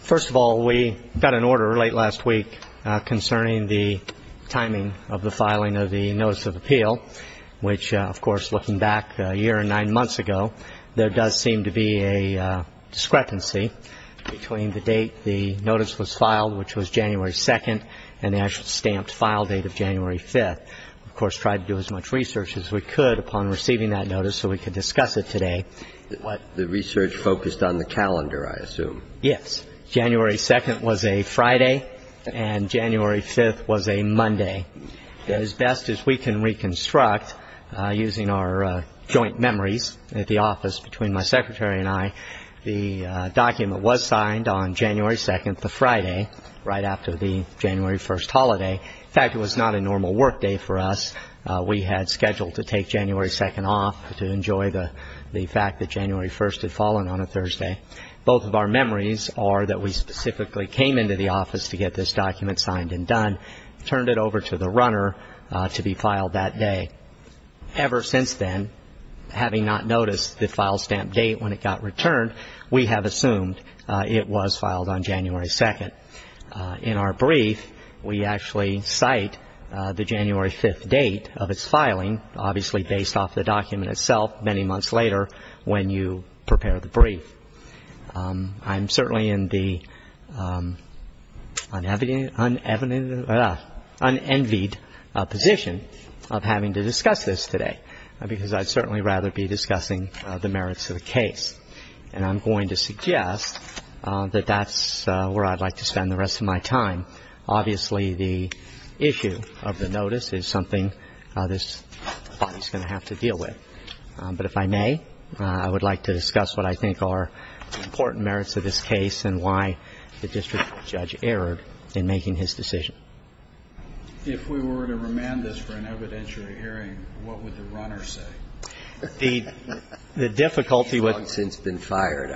First of all, we got an order late last week concerning the timing of the filing of the Notice of Appeal, which, of course, looking back a year and nine months ago, there does seem to be a discrepancy between the date the notice was filed, which was January 2nd, and the actual stamped file date of January 5th. We, of course, tried to do as much research as we could upon receiving that notice so we could discuss it today. The research focused on the calendar, I assume. Yes. January 2nd was a Friday, and January 5th was a Monday. As best as we can reconstruct, using our joint memories at the office between my secretary and I, the document was signed on January 2nd, the Friday, right after the January 1st holiday. In fact, it was not a normal work day for us. We had scheduled to take January 2nd off to enjoy the fact that January 1st had fallen on a Thursday. Both of our memories are that we specifically came into the office to get this document signed and done, turned it over to the runner to be filed that day. Ever since then, having not noticed the file stamp date when it got returned, we have assumed it was filed on January 2nd. In our brief, we actually cite the January 5th date of its filing, obviously based off the document itself many months later when you prepare the brief. I'm certainly in the unenvied position of having to discuss this today because I'd certainly rather be discussing the merits of the case. And I'm going to suggest that that's where I'd like to spend the rest of my time. Obviously, the issue of the notice is something this body is going to have to deal with. But if I may, I would like to discuss what I think are the important merits of this case and why the district judge erred in making his decision. If we were to remand this for an evidentiary hearing, what would the runner say? The difficulty with – He's long since been fired.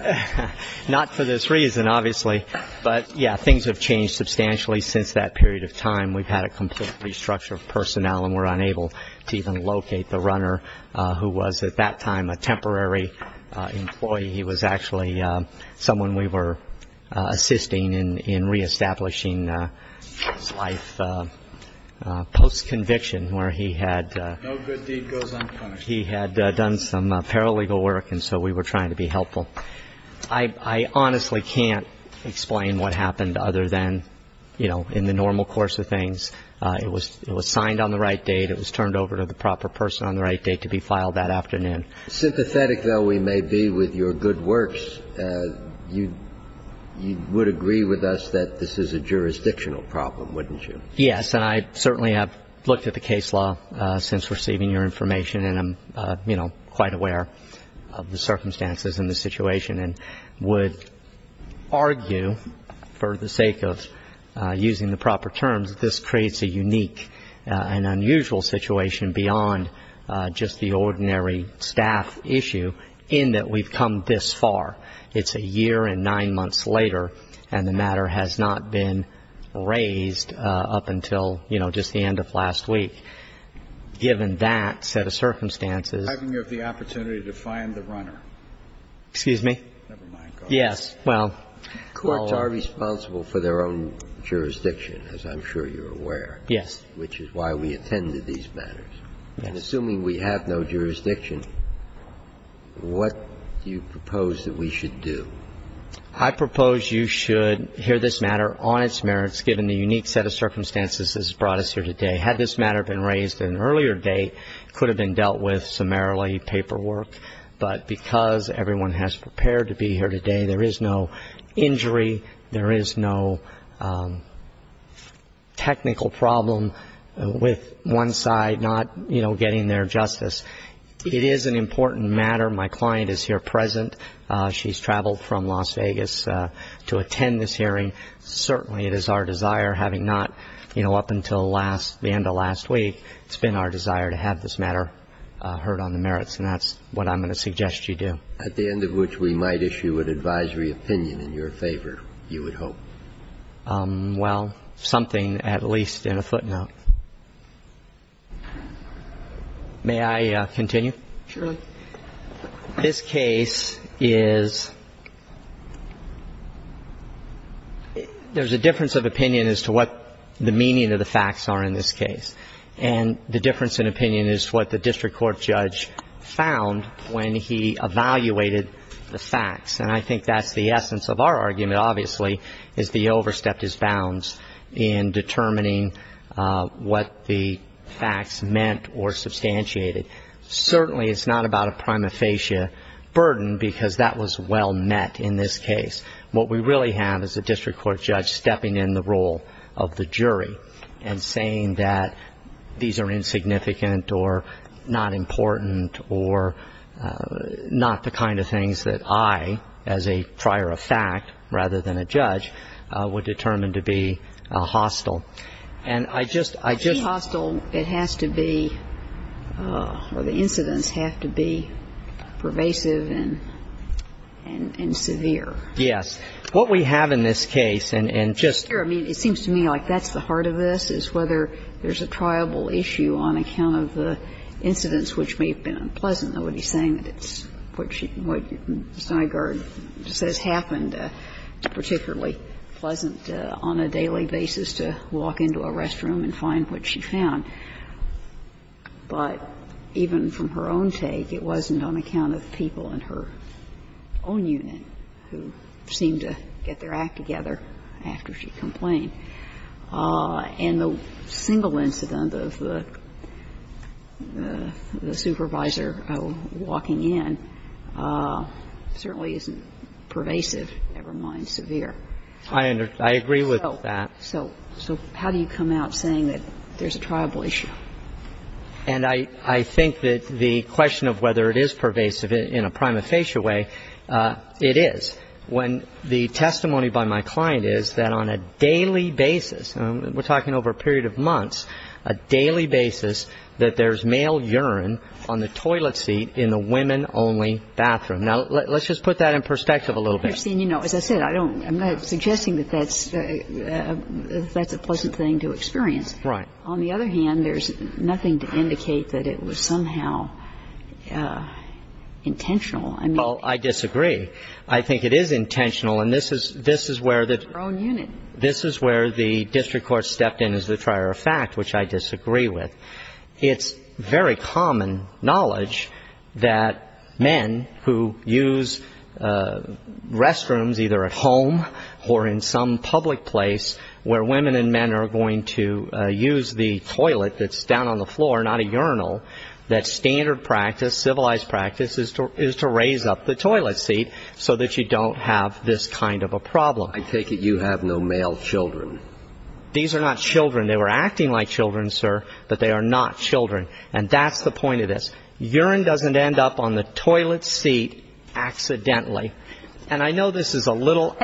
Not for this reason, obviously. But, yeah, things have changed substantially since that period of time. We've had a complete restructure of personnel and were unable to even locate the runner, who was at that time a temporary employee. He was actually someone we were assisting in reestablishing his life post-conviction where he had – He had done some paralegal work, and so we were trying to be helpful. I honestly can't explain what happened other than, you know, in the normal course of things, it was signed on the right date, it was turned over to the proper person on the right date to be filed that afternoon. Sympathetic though we may be with your good works, you would agree with us that this is a jurisdictional problem, wouldn't you? Yes, and I certainly have looked at the case law since receiving your information, and I'm, you know, quite aware of the circumstances and the situation, and would argue for the sake of using the proper terms that this creates a unique and unusual situation beyond just the ordinary staff issue in that we've come this far. It's a year and nine months later, and the matter has not been raised up until, you know, just the end of last week. Given that set of circumstances – How can you have the opportunity to find the runner? Excuse me? Never mind. Yes. Well – Courts are responsible for their own jurisdiction, as I'm sure you're aware. Yes. Which is why we attend to these matters. Yes. Assuming we have no jurisdiction, what do you propose that we should do? I propose you should hear this matter on its merits, given the unique set of circumstances this has brought us here today. Had this matter been raised at an earlier date, it could have been dealt with summarily, paperwork, but because everyone has prepared to be here today, there is no injury, there is no technical problem with one side not, you know, getting their justice. It is an important matter. My client is here present. She's traveled from Las Vegas to attend this hearing. Certainly it is our desire, having not, you know, up until the end of last week, it's been our desire to have this matter heard on the merits, and that's what I'm going to suggest you do. At the end of which, we might issue an advisory opinion in your favor, you would hope. Well, something at least in a footnote. May I continue? Surely. This case is – there's a difference of opinion as to what the meaning of the facts are in this case. And the difference in opinion is what the district court judge found when he evaluated the facts. And I think that's the essence of our argument, obviously, is the overstepped his bounds in determining what the facts meant or substantiated. Certainly it's not about a prima facie burden, because that was well met in this case. What we really have is a district court judge stepping in the role of the jury and saying that these are insignificant or not important or not the kind of things that I, as a prior of fact rather than a judge, would determine to be hostile. And I just – I just – To be hostile, it has to be – or the incidents have to be pervasive and severe. Yes. What we have in this case, and just – I mean, it seems to me like that's the heart of this, is whether there's a triable issue on account of the incidents which may have been unpleasant. I don't know what he's saying, but it's what she – what Snyder says happened particularly pleasant on a daily basis to walk into a restroom and find what she found. But even from her own take, it wasn't on account of the people in her own unit who seemed to get their act together after she complained. And the single incident of the supervisor walking in certainly isn't pervasive, never mind severe. I agree with that. So how do you come out saying that there's a triable issue? And I think that the question of whether it is pervasive in a prima facie way, it is. The testimony by my client is that on a daily basis – we're talking over a period of months – a daily basis that there's male urine on the toilet seat in the women-only bathroom. Now, let's just put that in perspective a little bit. You know, as I said, I don't – I'm not suggesting that that's a pleasant thing to experience. Right. On the other hand, there's nothing to indicate that it was somehow intentional. Well, I disagree. I think it is intentional, and this is where the – Her own unit. This is where the district court stepped in as the trier of fact, which I disagree with. It's very common knowledge that men who use restrooms either at home or in some public place where women and men are going to use the toilet that's down on the floor, not a have this kind of a problem. I take it you have no male children. These are not children. They were acting like children, sir, but they are not children. And that's the point of this. Urine doesn't end up on the toilet seat accidentally. And I know this is a little –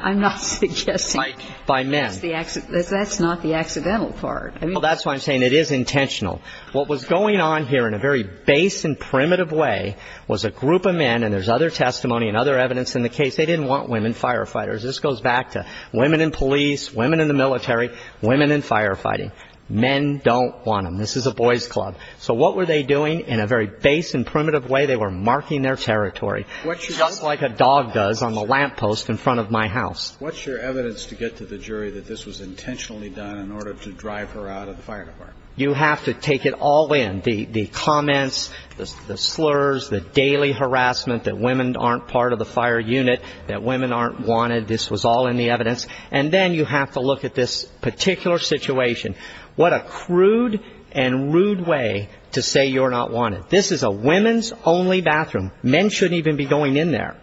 I'm not suggesting – By men. That's not the accidental part. Well, that's why I'm saying it is intentional. What was going on here in a very base and primitive way was a group of men, and there's other testimony and other evidence in the case. They didn't want women firefighters. This goes back to women in police, women in the military, women in firefighting. Men don't want them. This is a boys club. So what were they doing in a very base and primitive way? They were marking their territory just like a dog does on the lamppost in front of my house. What's your evidence to get to the jury that this was intentionally done in order to drive her out of the fire department? You have to take it all in, the comments, the slurs, the daily harassment that women aren't part of the fire unit, that women aren't wanted. This was all in the evidence. And then you have to look at this particular situation. What a crude and rude way to say you're not wanted. This is a women's only bathroom. Men shouldn't even be going in there.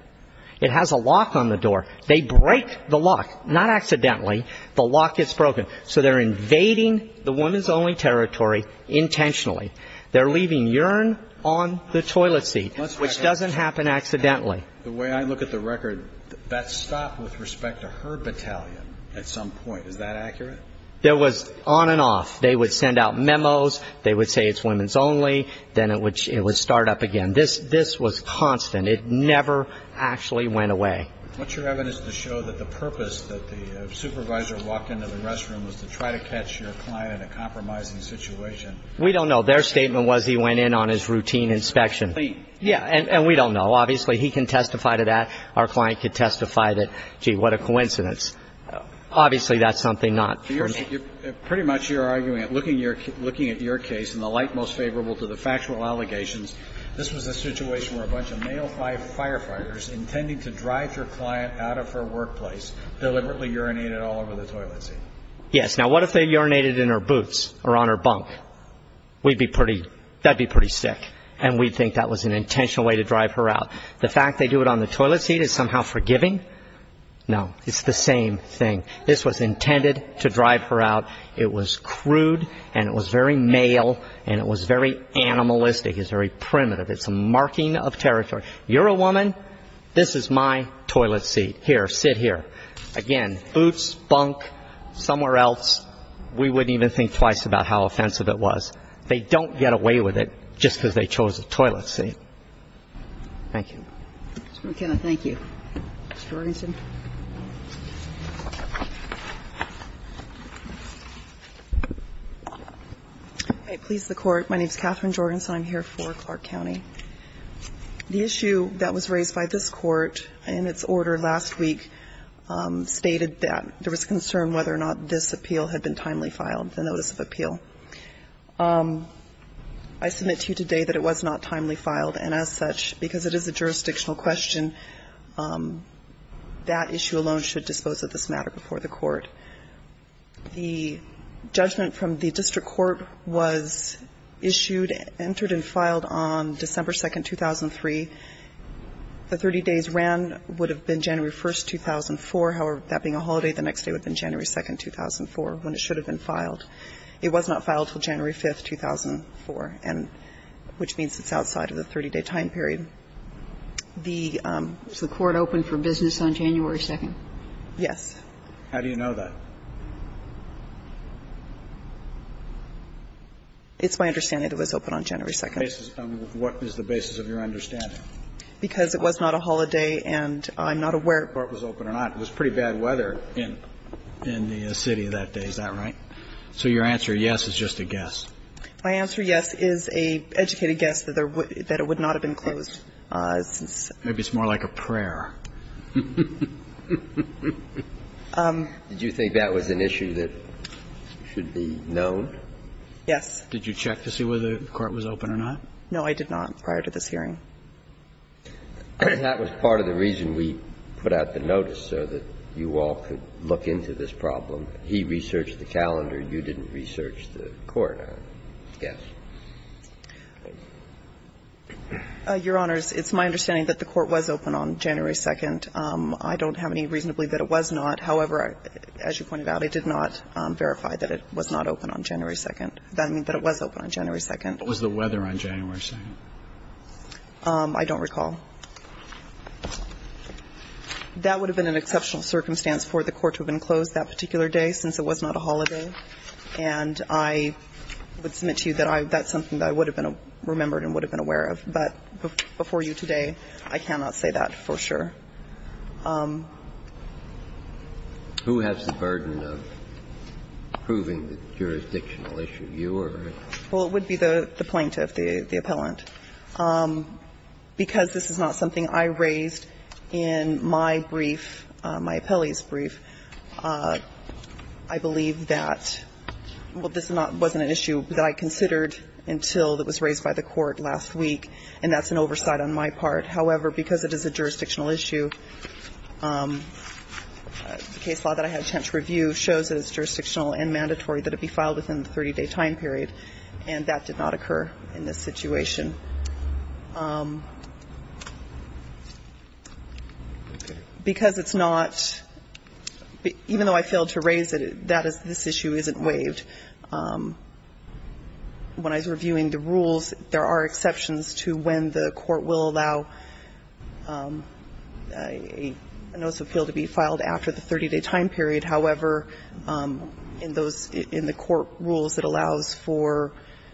It has a lock on the door. They break the lock, not accidentally. The lock gets broken. So they're invading the women's only territory intentionally. They're leaving urine on the toilet seat, which doesn't happen accidentally. The way I look at the record, that stopped with respect to her battalion at some point. Is that accurate? It was on and off. They would send out memos. They would say it's women's only. Then it would start up again. This was constant. It never actually went away. What's your evidence to show that the purpose that the supervisor walked into the restroom was to try to catch your client in a compromising situation? We don't know. Their statement was he went in on his routine inspection. Yeah, and we don't know. Obviously, he can testify to that. Our client could testify that, gee, what a coincidence. Obviously, that's something not for me. Pretty much you're arguing, looking at your case, in the light most favorable to the factual allegations, this was a situation where a bunch of male firefighters intending to drive your client out of her workplace deliberately urinated all over the toilet seat. Yes. Now, what if they urinated in her boots or on her bunk? That would be pretty sick, and we'd think that was an intentional way to drive her out. The fact they do it on the toilet seat is somehow forgiving? No. It's the same thing. This was intended to drive her out. It was crude, and it was very male, and it was very animalistic. It was very primitive. It's a marking of territory. You're a woman. This is my toilet seat. Here, sit here. Again, boots, bunk, somewhere else, we wouldn't even think twice about how offensive it was. They don't get away with it just because they chose the toilet seat. Thank you. Mr. McKenna, thank you. Ms. Jorgensen. Please, the Court. My name is Katherine Jorgensen. I'm here for Clark County. The issue that was raised by this Court in its order last week stated that there was concern whether or not this appeal had been timely filed, the notice of appeal. I submit to you today that it was not timely filed, and as such, because it is a jurisdictional question, that issue alone should dispose of this matter before the Court. The judgment from the district court was issued, entered, and filed on December 2nd, 2003. The 30 days ran would have been January 1st, 2004. However, that being a holiday, the next day would have been January 2nd, 2004, when it should have been filed. It was not filed until January 5th, 2004, which means it's outside of the 30-day time period. Is the Court open for business on January 2nd? Yes. How do you know that? It's my understanding it was open on January 2nd. What is the basis of your understanding? Because it was not a holiday, and I'm not aware of whether it was open or not. It was pretty bad weather in the city that day. Is that right? So your answer, yes, is just a guess. My answer, yes, is an educated guess that it would not have been closed. Maybe it's more like a prayer. Did you think that was an issue that should be known? Yes. Did you check to see whether the Court was open or not? No, I did not prior to this hearing. That was part of the reason we put out the notice, so that you all could look into this problem. He researched the calendar. You didn't research the Court, I guess. Your Honors, it's my understanding that the Court was open on January 2nd. I don't have any reason to believe that it was not. However, as you pointed out, it did not verify that it was not open on January 2nd. That means that it was open on January 2nd. What was the weather on January 2nd? I don't recall. That would have been an exceptional circumstance for the Court to have been closed that particular day, since it was not a holiday. And I would submit to you that that's something that I would have remembered and would have been aware of. But before you today, I cannot say that for sure. Who has the burden of proving the jurisdictional issue, you or? Well, it would be the plaintiff, the appellant. Because this is not something I raised in my brief, my appellee's brief, I believe that, well, this wasn't an issue that I considered until it was raised by the Court last week, and that's an oversight on my part. However, because it is a jurisdictional issue, the case law that I had a chance to review shows that it's jurisdictional and mandatory that it be filed within the 30-day time period, and that did not occur in this situation. Because it's not – even though I failed to raise it, that is – this issue isn't waived. When I was reviewing the rules, there are exceptions to when the court will allow a notice of appeal to be filed after the 30-day time period. However, in those – in the court rules, it allows for,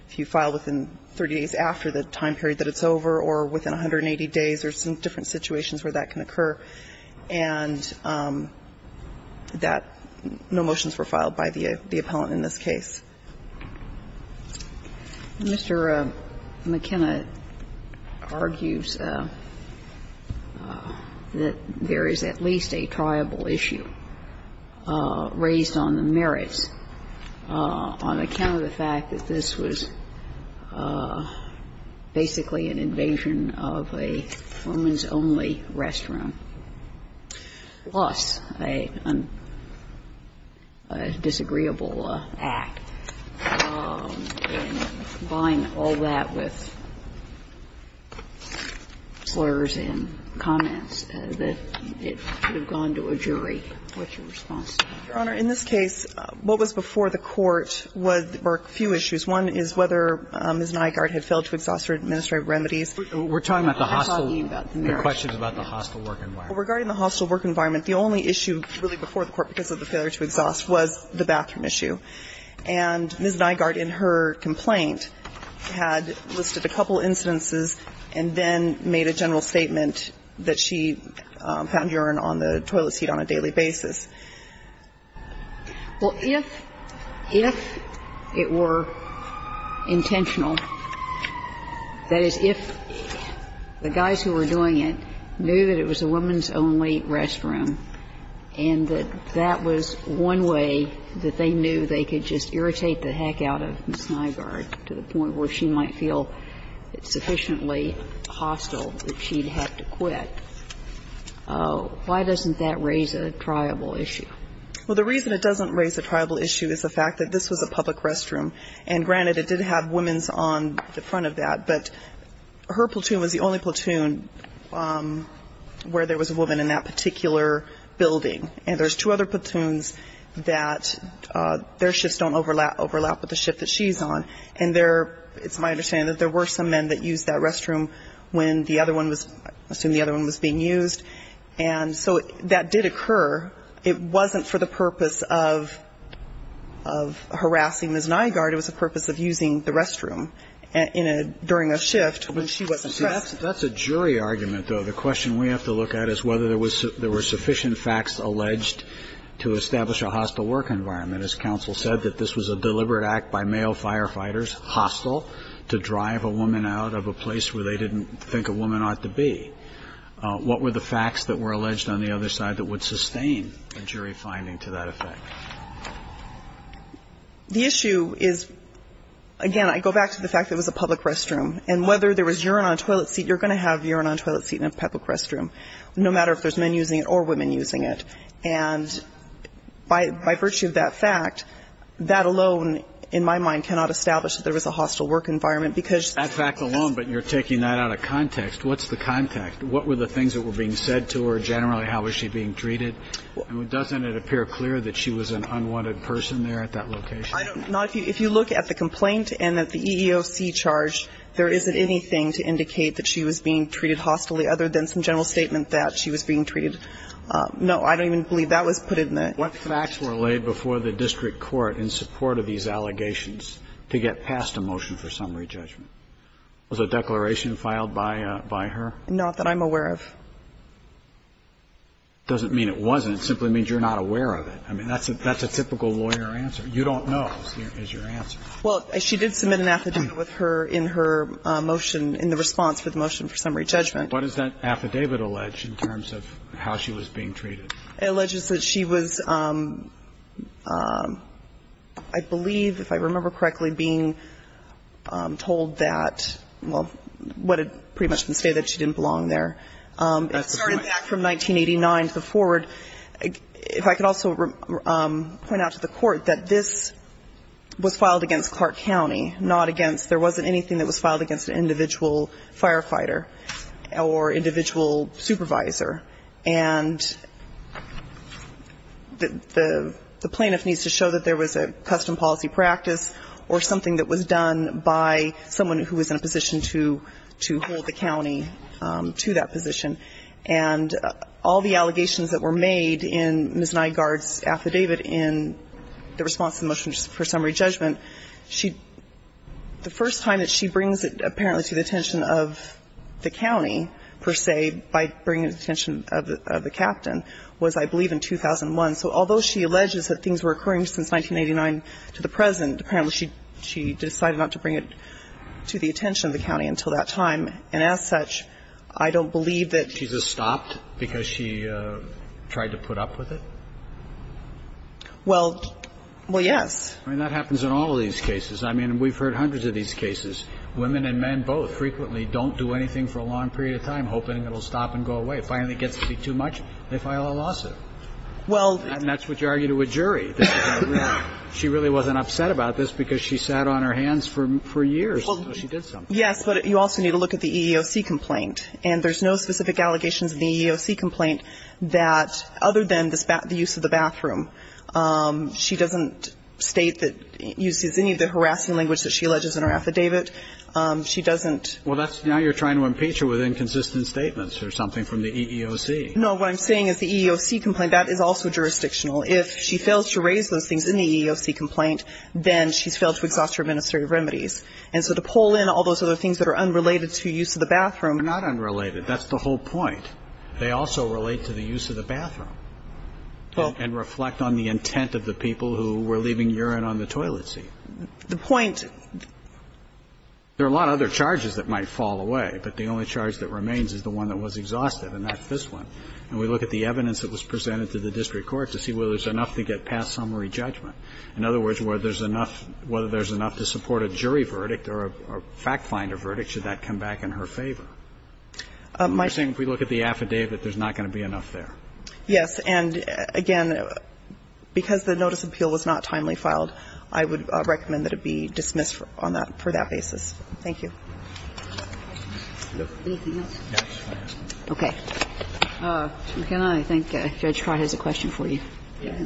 if you file within 30 days after the time period that it's over or within 180 days, there's some different situations where that can occur, and that no motions were filed by the appellant in this case. Mr. McKenna argues that there is at least a triable issue raised on the merits on account of the fact that this was basically an invasion of a women's-only restroom, plus a disagreeable act. And combine all that with slurs and comments that it should have gone to a jury. What's your response to that? Your Honor, in this case, what was before the court were a few issues. One is whether Ms. Nygaard had failed to exhaust her administrative remedies. We're talking about the hostile – the questions about the hostile work environment. Regarding the hostile work environment, the only issue really before the court because of the failure to exhaust was the bathroom issue. And Ms. Nygaard in her complaint had listed a couple instances and then made a general statement that she found urine on the toilet seat on a daily basis. Well, if – if it were intentional, that is, if the guys who were doing it knew that it was a women's-only restroom and that that was one way that they knew they could just irritate the heck out of Ms. Nygaard to the point where she might feel sufficiently hostile that she'd have to quit, why doesn't that raise a triable issue? Well, the reason it doesn't raise a triable issue is the fact that this was a public restroom. And granted, it did have women's on the front of that. But her platoon was the only platoon where there was a woman in that particular building. And there's two other platoons that their shifts don't overlap with the shift that she's on. And there – it's my understanding that there were some men that used that restroom when the other one was – I assume the other one was being used. And so that did occur. It wasn't for the purpose of – of harassing Ms. Nygaard. It was the purpose of using the restroom in a – during a shift when she wasn't dressed. That's a jury argument, though. The question we have to look at is whether there was – there were sufficient facts alleged to establish a hostile work environment. And as counsel said, that this was a deliberate act by male firefighters, hostile, to drive a woman out of a place where they didn't think a woman ought to be. What were the facts that were alleged on the other side that would sustain a jury finding to that effect? The issue is – again, I go back to the fact that it was a public restroom. And whether there was urine on a toilet seat – you're going to have urine on a toilet seat in a public restroom, no matter if there's men using it or women using it. And by – by virtue of that fact, that alone, in my mind, cannot establish that there was a hostile work environment, because – That fact alone, but you're taking that out of context. What's the context? What were the things that were being said to her generally? How was she being treated? And doesn't it appear clear that she was an unwanted person there at that location? I don't – if you look at the complaint and at the EEOC charge, there isn't anything to indicate that she was being treated hostilely, other than some general statement that she was being treated – no. I don't even believe that was put in there. What facts were laid before the district court in support of these allegations to get past a motion for summary judgment? Was a declaration filed by – by her? Not that I'm aware of. Doesn't mean it wasn't. It simply means you're not aware of it. I mean, that's a – that's a typical lawyer answer. You don't know is your answer. Well, she did submit an affidavit with her in her motion in the response for the motion for summary judgment. What does that affidavit allege in terms of how she was being treated? It alleges that she was, I believe, if I remember correctly, being told that – well, what it pretty much can say, that she didn't belong there. That's correct. It started back from 1989 to the forward. If I could also point out to the Court that this was filed against Clark County, or individual supervisor. And the plaintiff needs to show that there was a custom policy practice or something that was done by someone who was in a position to hold the county to that position. And all the allegations that were made in Ms. Nygaard's affidavit in the response to the motion for summary judgment, she – the first time that she brings it apparently to the attention of the county, per se, by bringing it to the attention of the captain, was, I believe, in 2001. So although she alleges that things were occurring since 1989 to the present, apparently she decided not to bring it to the attention of the county until that time. And as such, I don't believe that she's a stopped because she tried to put up with it? Well, yes. I mean, that happens in all of these cases. I mean, we've heard hundreds of these cases. Women and men both frequently don't do anything for a long period of time, hoping it will stop and go away. It finally gets to be too much, they file a lawsuit. Well – And that's what you argue to a jury. She really wasn't upset about this because she sat on her hands for years until she did something. Yes, but you also need to look at the EEOC complaint. And there's no specific allegations in the EEOC complaint that, other than the use of the bathroom, she doesn't state that – uses any of the harassing language that she alleges in her affidavit. She doesn't – Well, that's – now you're trying to impeach her with inconsistent statements or something from the EEOC. No, what I'm saying is the EEOC complaint, that is also jurisdictional. If she fails to raise those things in the EEOC complaint, then she's failed to exhaust her administrative remedies. And so to pull in all those other things that are unrelated to use of the bathroom – They're not unrelated. That's the whole point. They also relate to the use of the bathroom. And reflect on the intent of the people who were leaving urine on the toilet seat. The point – There are a lot of other charges that might fall away, but the only charge that remains is the one that was exhaustive, and that's this one. And we look at the evidence that was presented to the district court to see whether there's enough to get past summary judgment. In other words, whether there's enough to support a jury verdict or a fact finder verdict, should that come back in her favor? You're saying if we look at the affidavit, there's not going to be enough there? Yes. And, again, because the notice of appeal was not timely filed, I would recommend that it be dismissed on that – for that basis. Thank you. Anything else? Yes. Okay. Can I thank Judge Trott? He has a question for you. Yeah.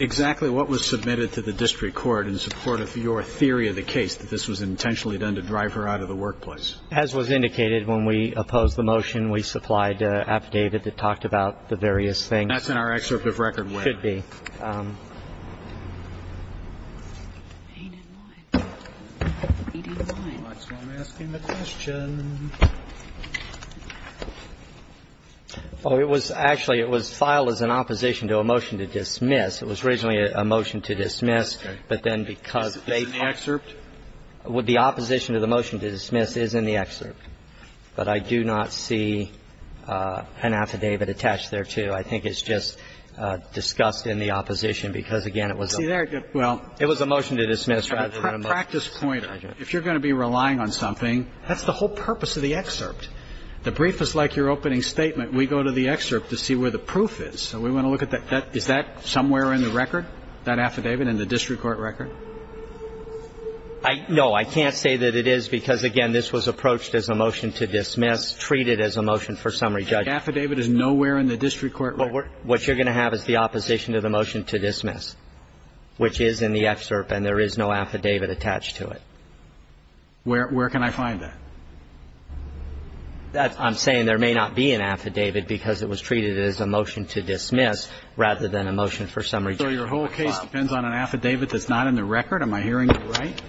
Exactly what was submitted to the district court in support of your theory of the case that this was intentionally done to drive her out of the workplace? As was indicated, when we opposed the motion, we supplied an affidavit that talked about the various things. And that's in our excerpt of record where? It should be. I'm asking the question. Well, it was – actually, it was filed as an opposition to a motion to dismiss. It was originally a motion to dismiss, but then because they filed – Is it in the excerpt? The opposition to the motion to dismiss is in the excerpt. But I do not see an affidavit attached there, too. I think it's just discussed in the opposition because, again, it was a – See, there – well – It was a motion to dismiss rather than a motion to dismiss. Practice point. If you're going to be relying on something, that's the whole purpose of the excerpt. The brief is like your opening statement. We go to the excerpt to see where the proof is. So we want to look at that. Is that somewhere in the record, that affidavit, in the district court record? No. I can't say that it is because, again, this was approached as a motion to dismiss, treated as a motion for summary judgment. The affidavit is nowhere in the district court record. What you're going to have is the opposition to the motion to dismiss, which is in the excerpt, and there is no affidavit attached to it. Where can I find that? I'm saying there may not be an affidavit because it was treated as a motion to dismiss rather than a motion for summary judgment. So your whole case depends on an affidavit that's not in the record? Am I hearing you right?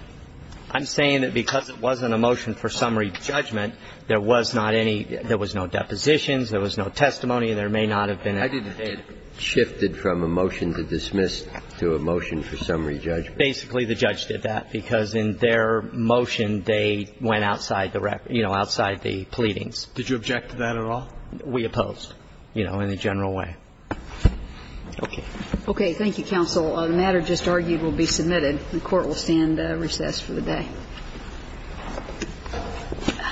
I'm saying that because it wasn't a motion for summary judgment, there was not any, there was no depositions, there was no testimony, and there may not have been an affidavit. I didn't think it shifted from a motion to dismiss to a motion for summary judgment. Basically, the judge did that because in their motion, they went outside the, you know, outside the pleadings. Did you object to that at all? We opposed, you know, in a general way. Okay. Thank you, counsel. The matter just argued will be submitted. The Court will stand recess for the day.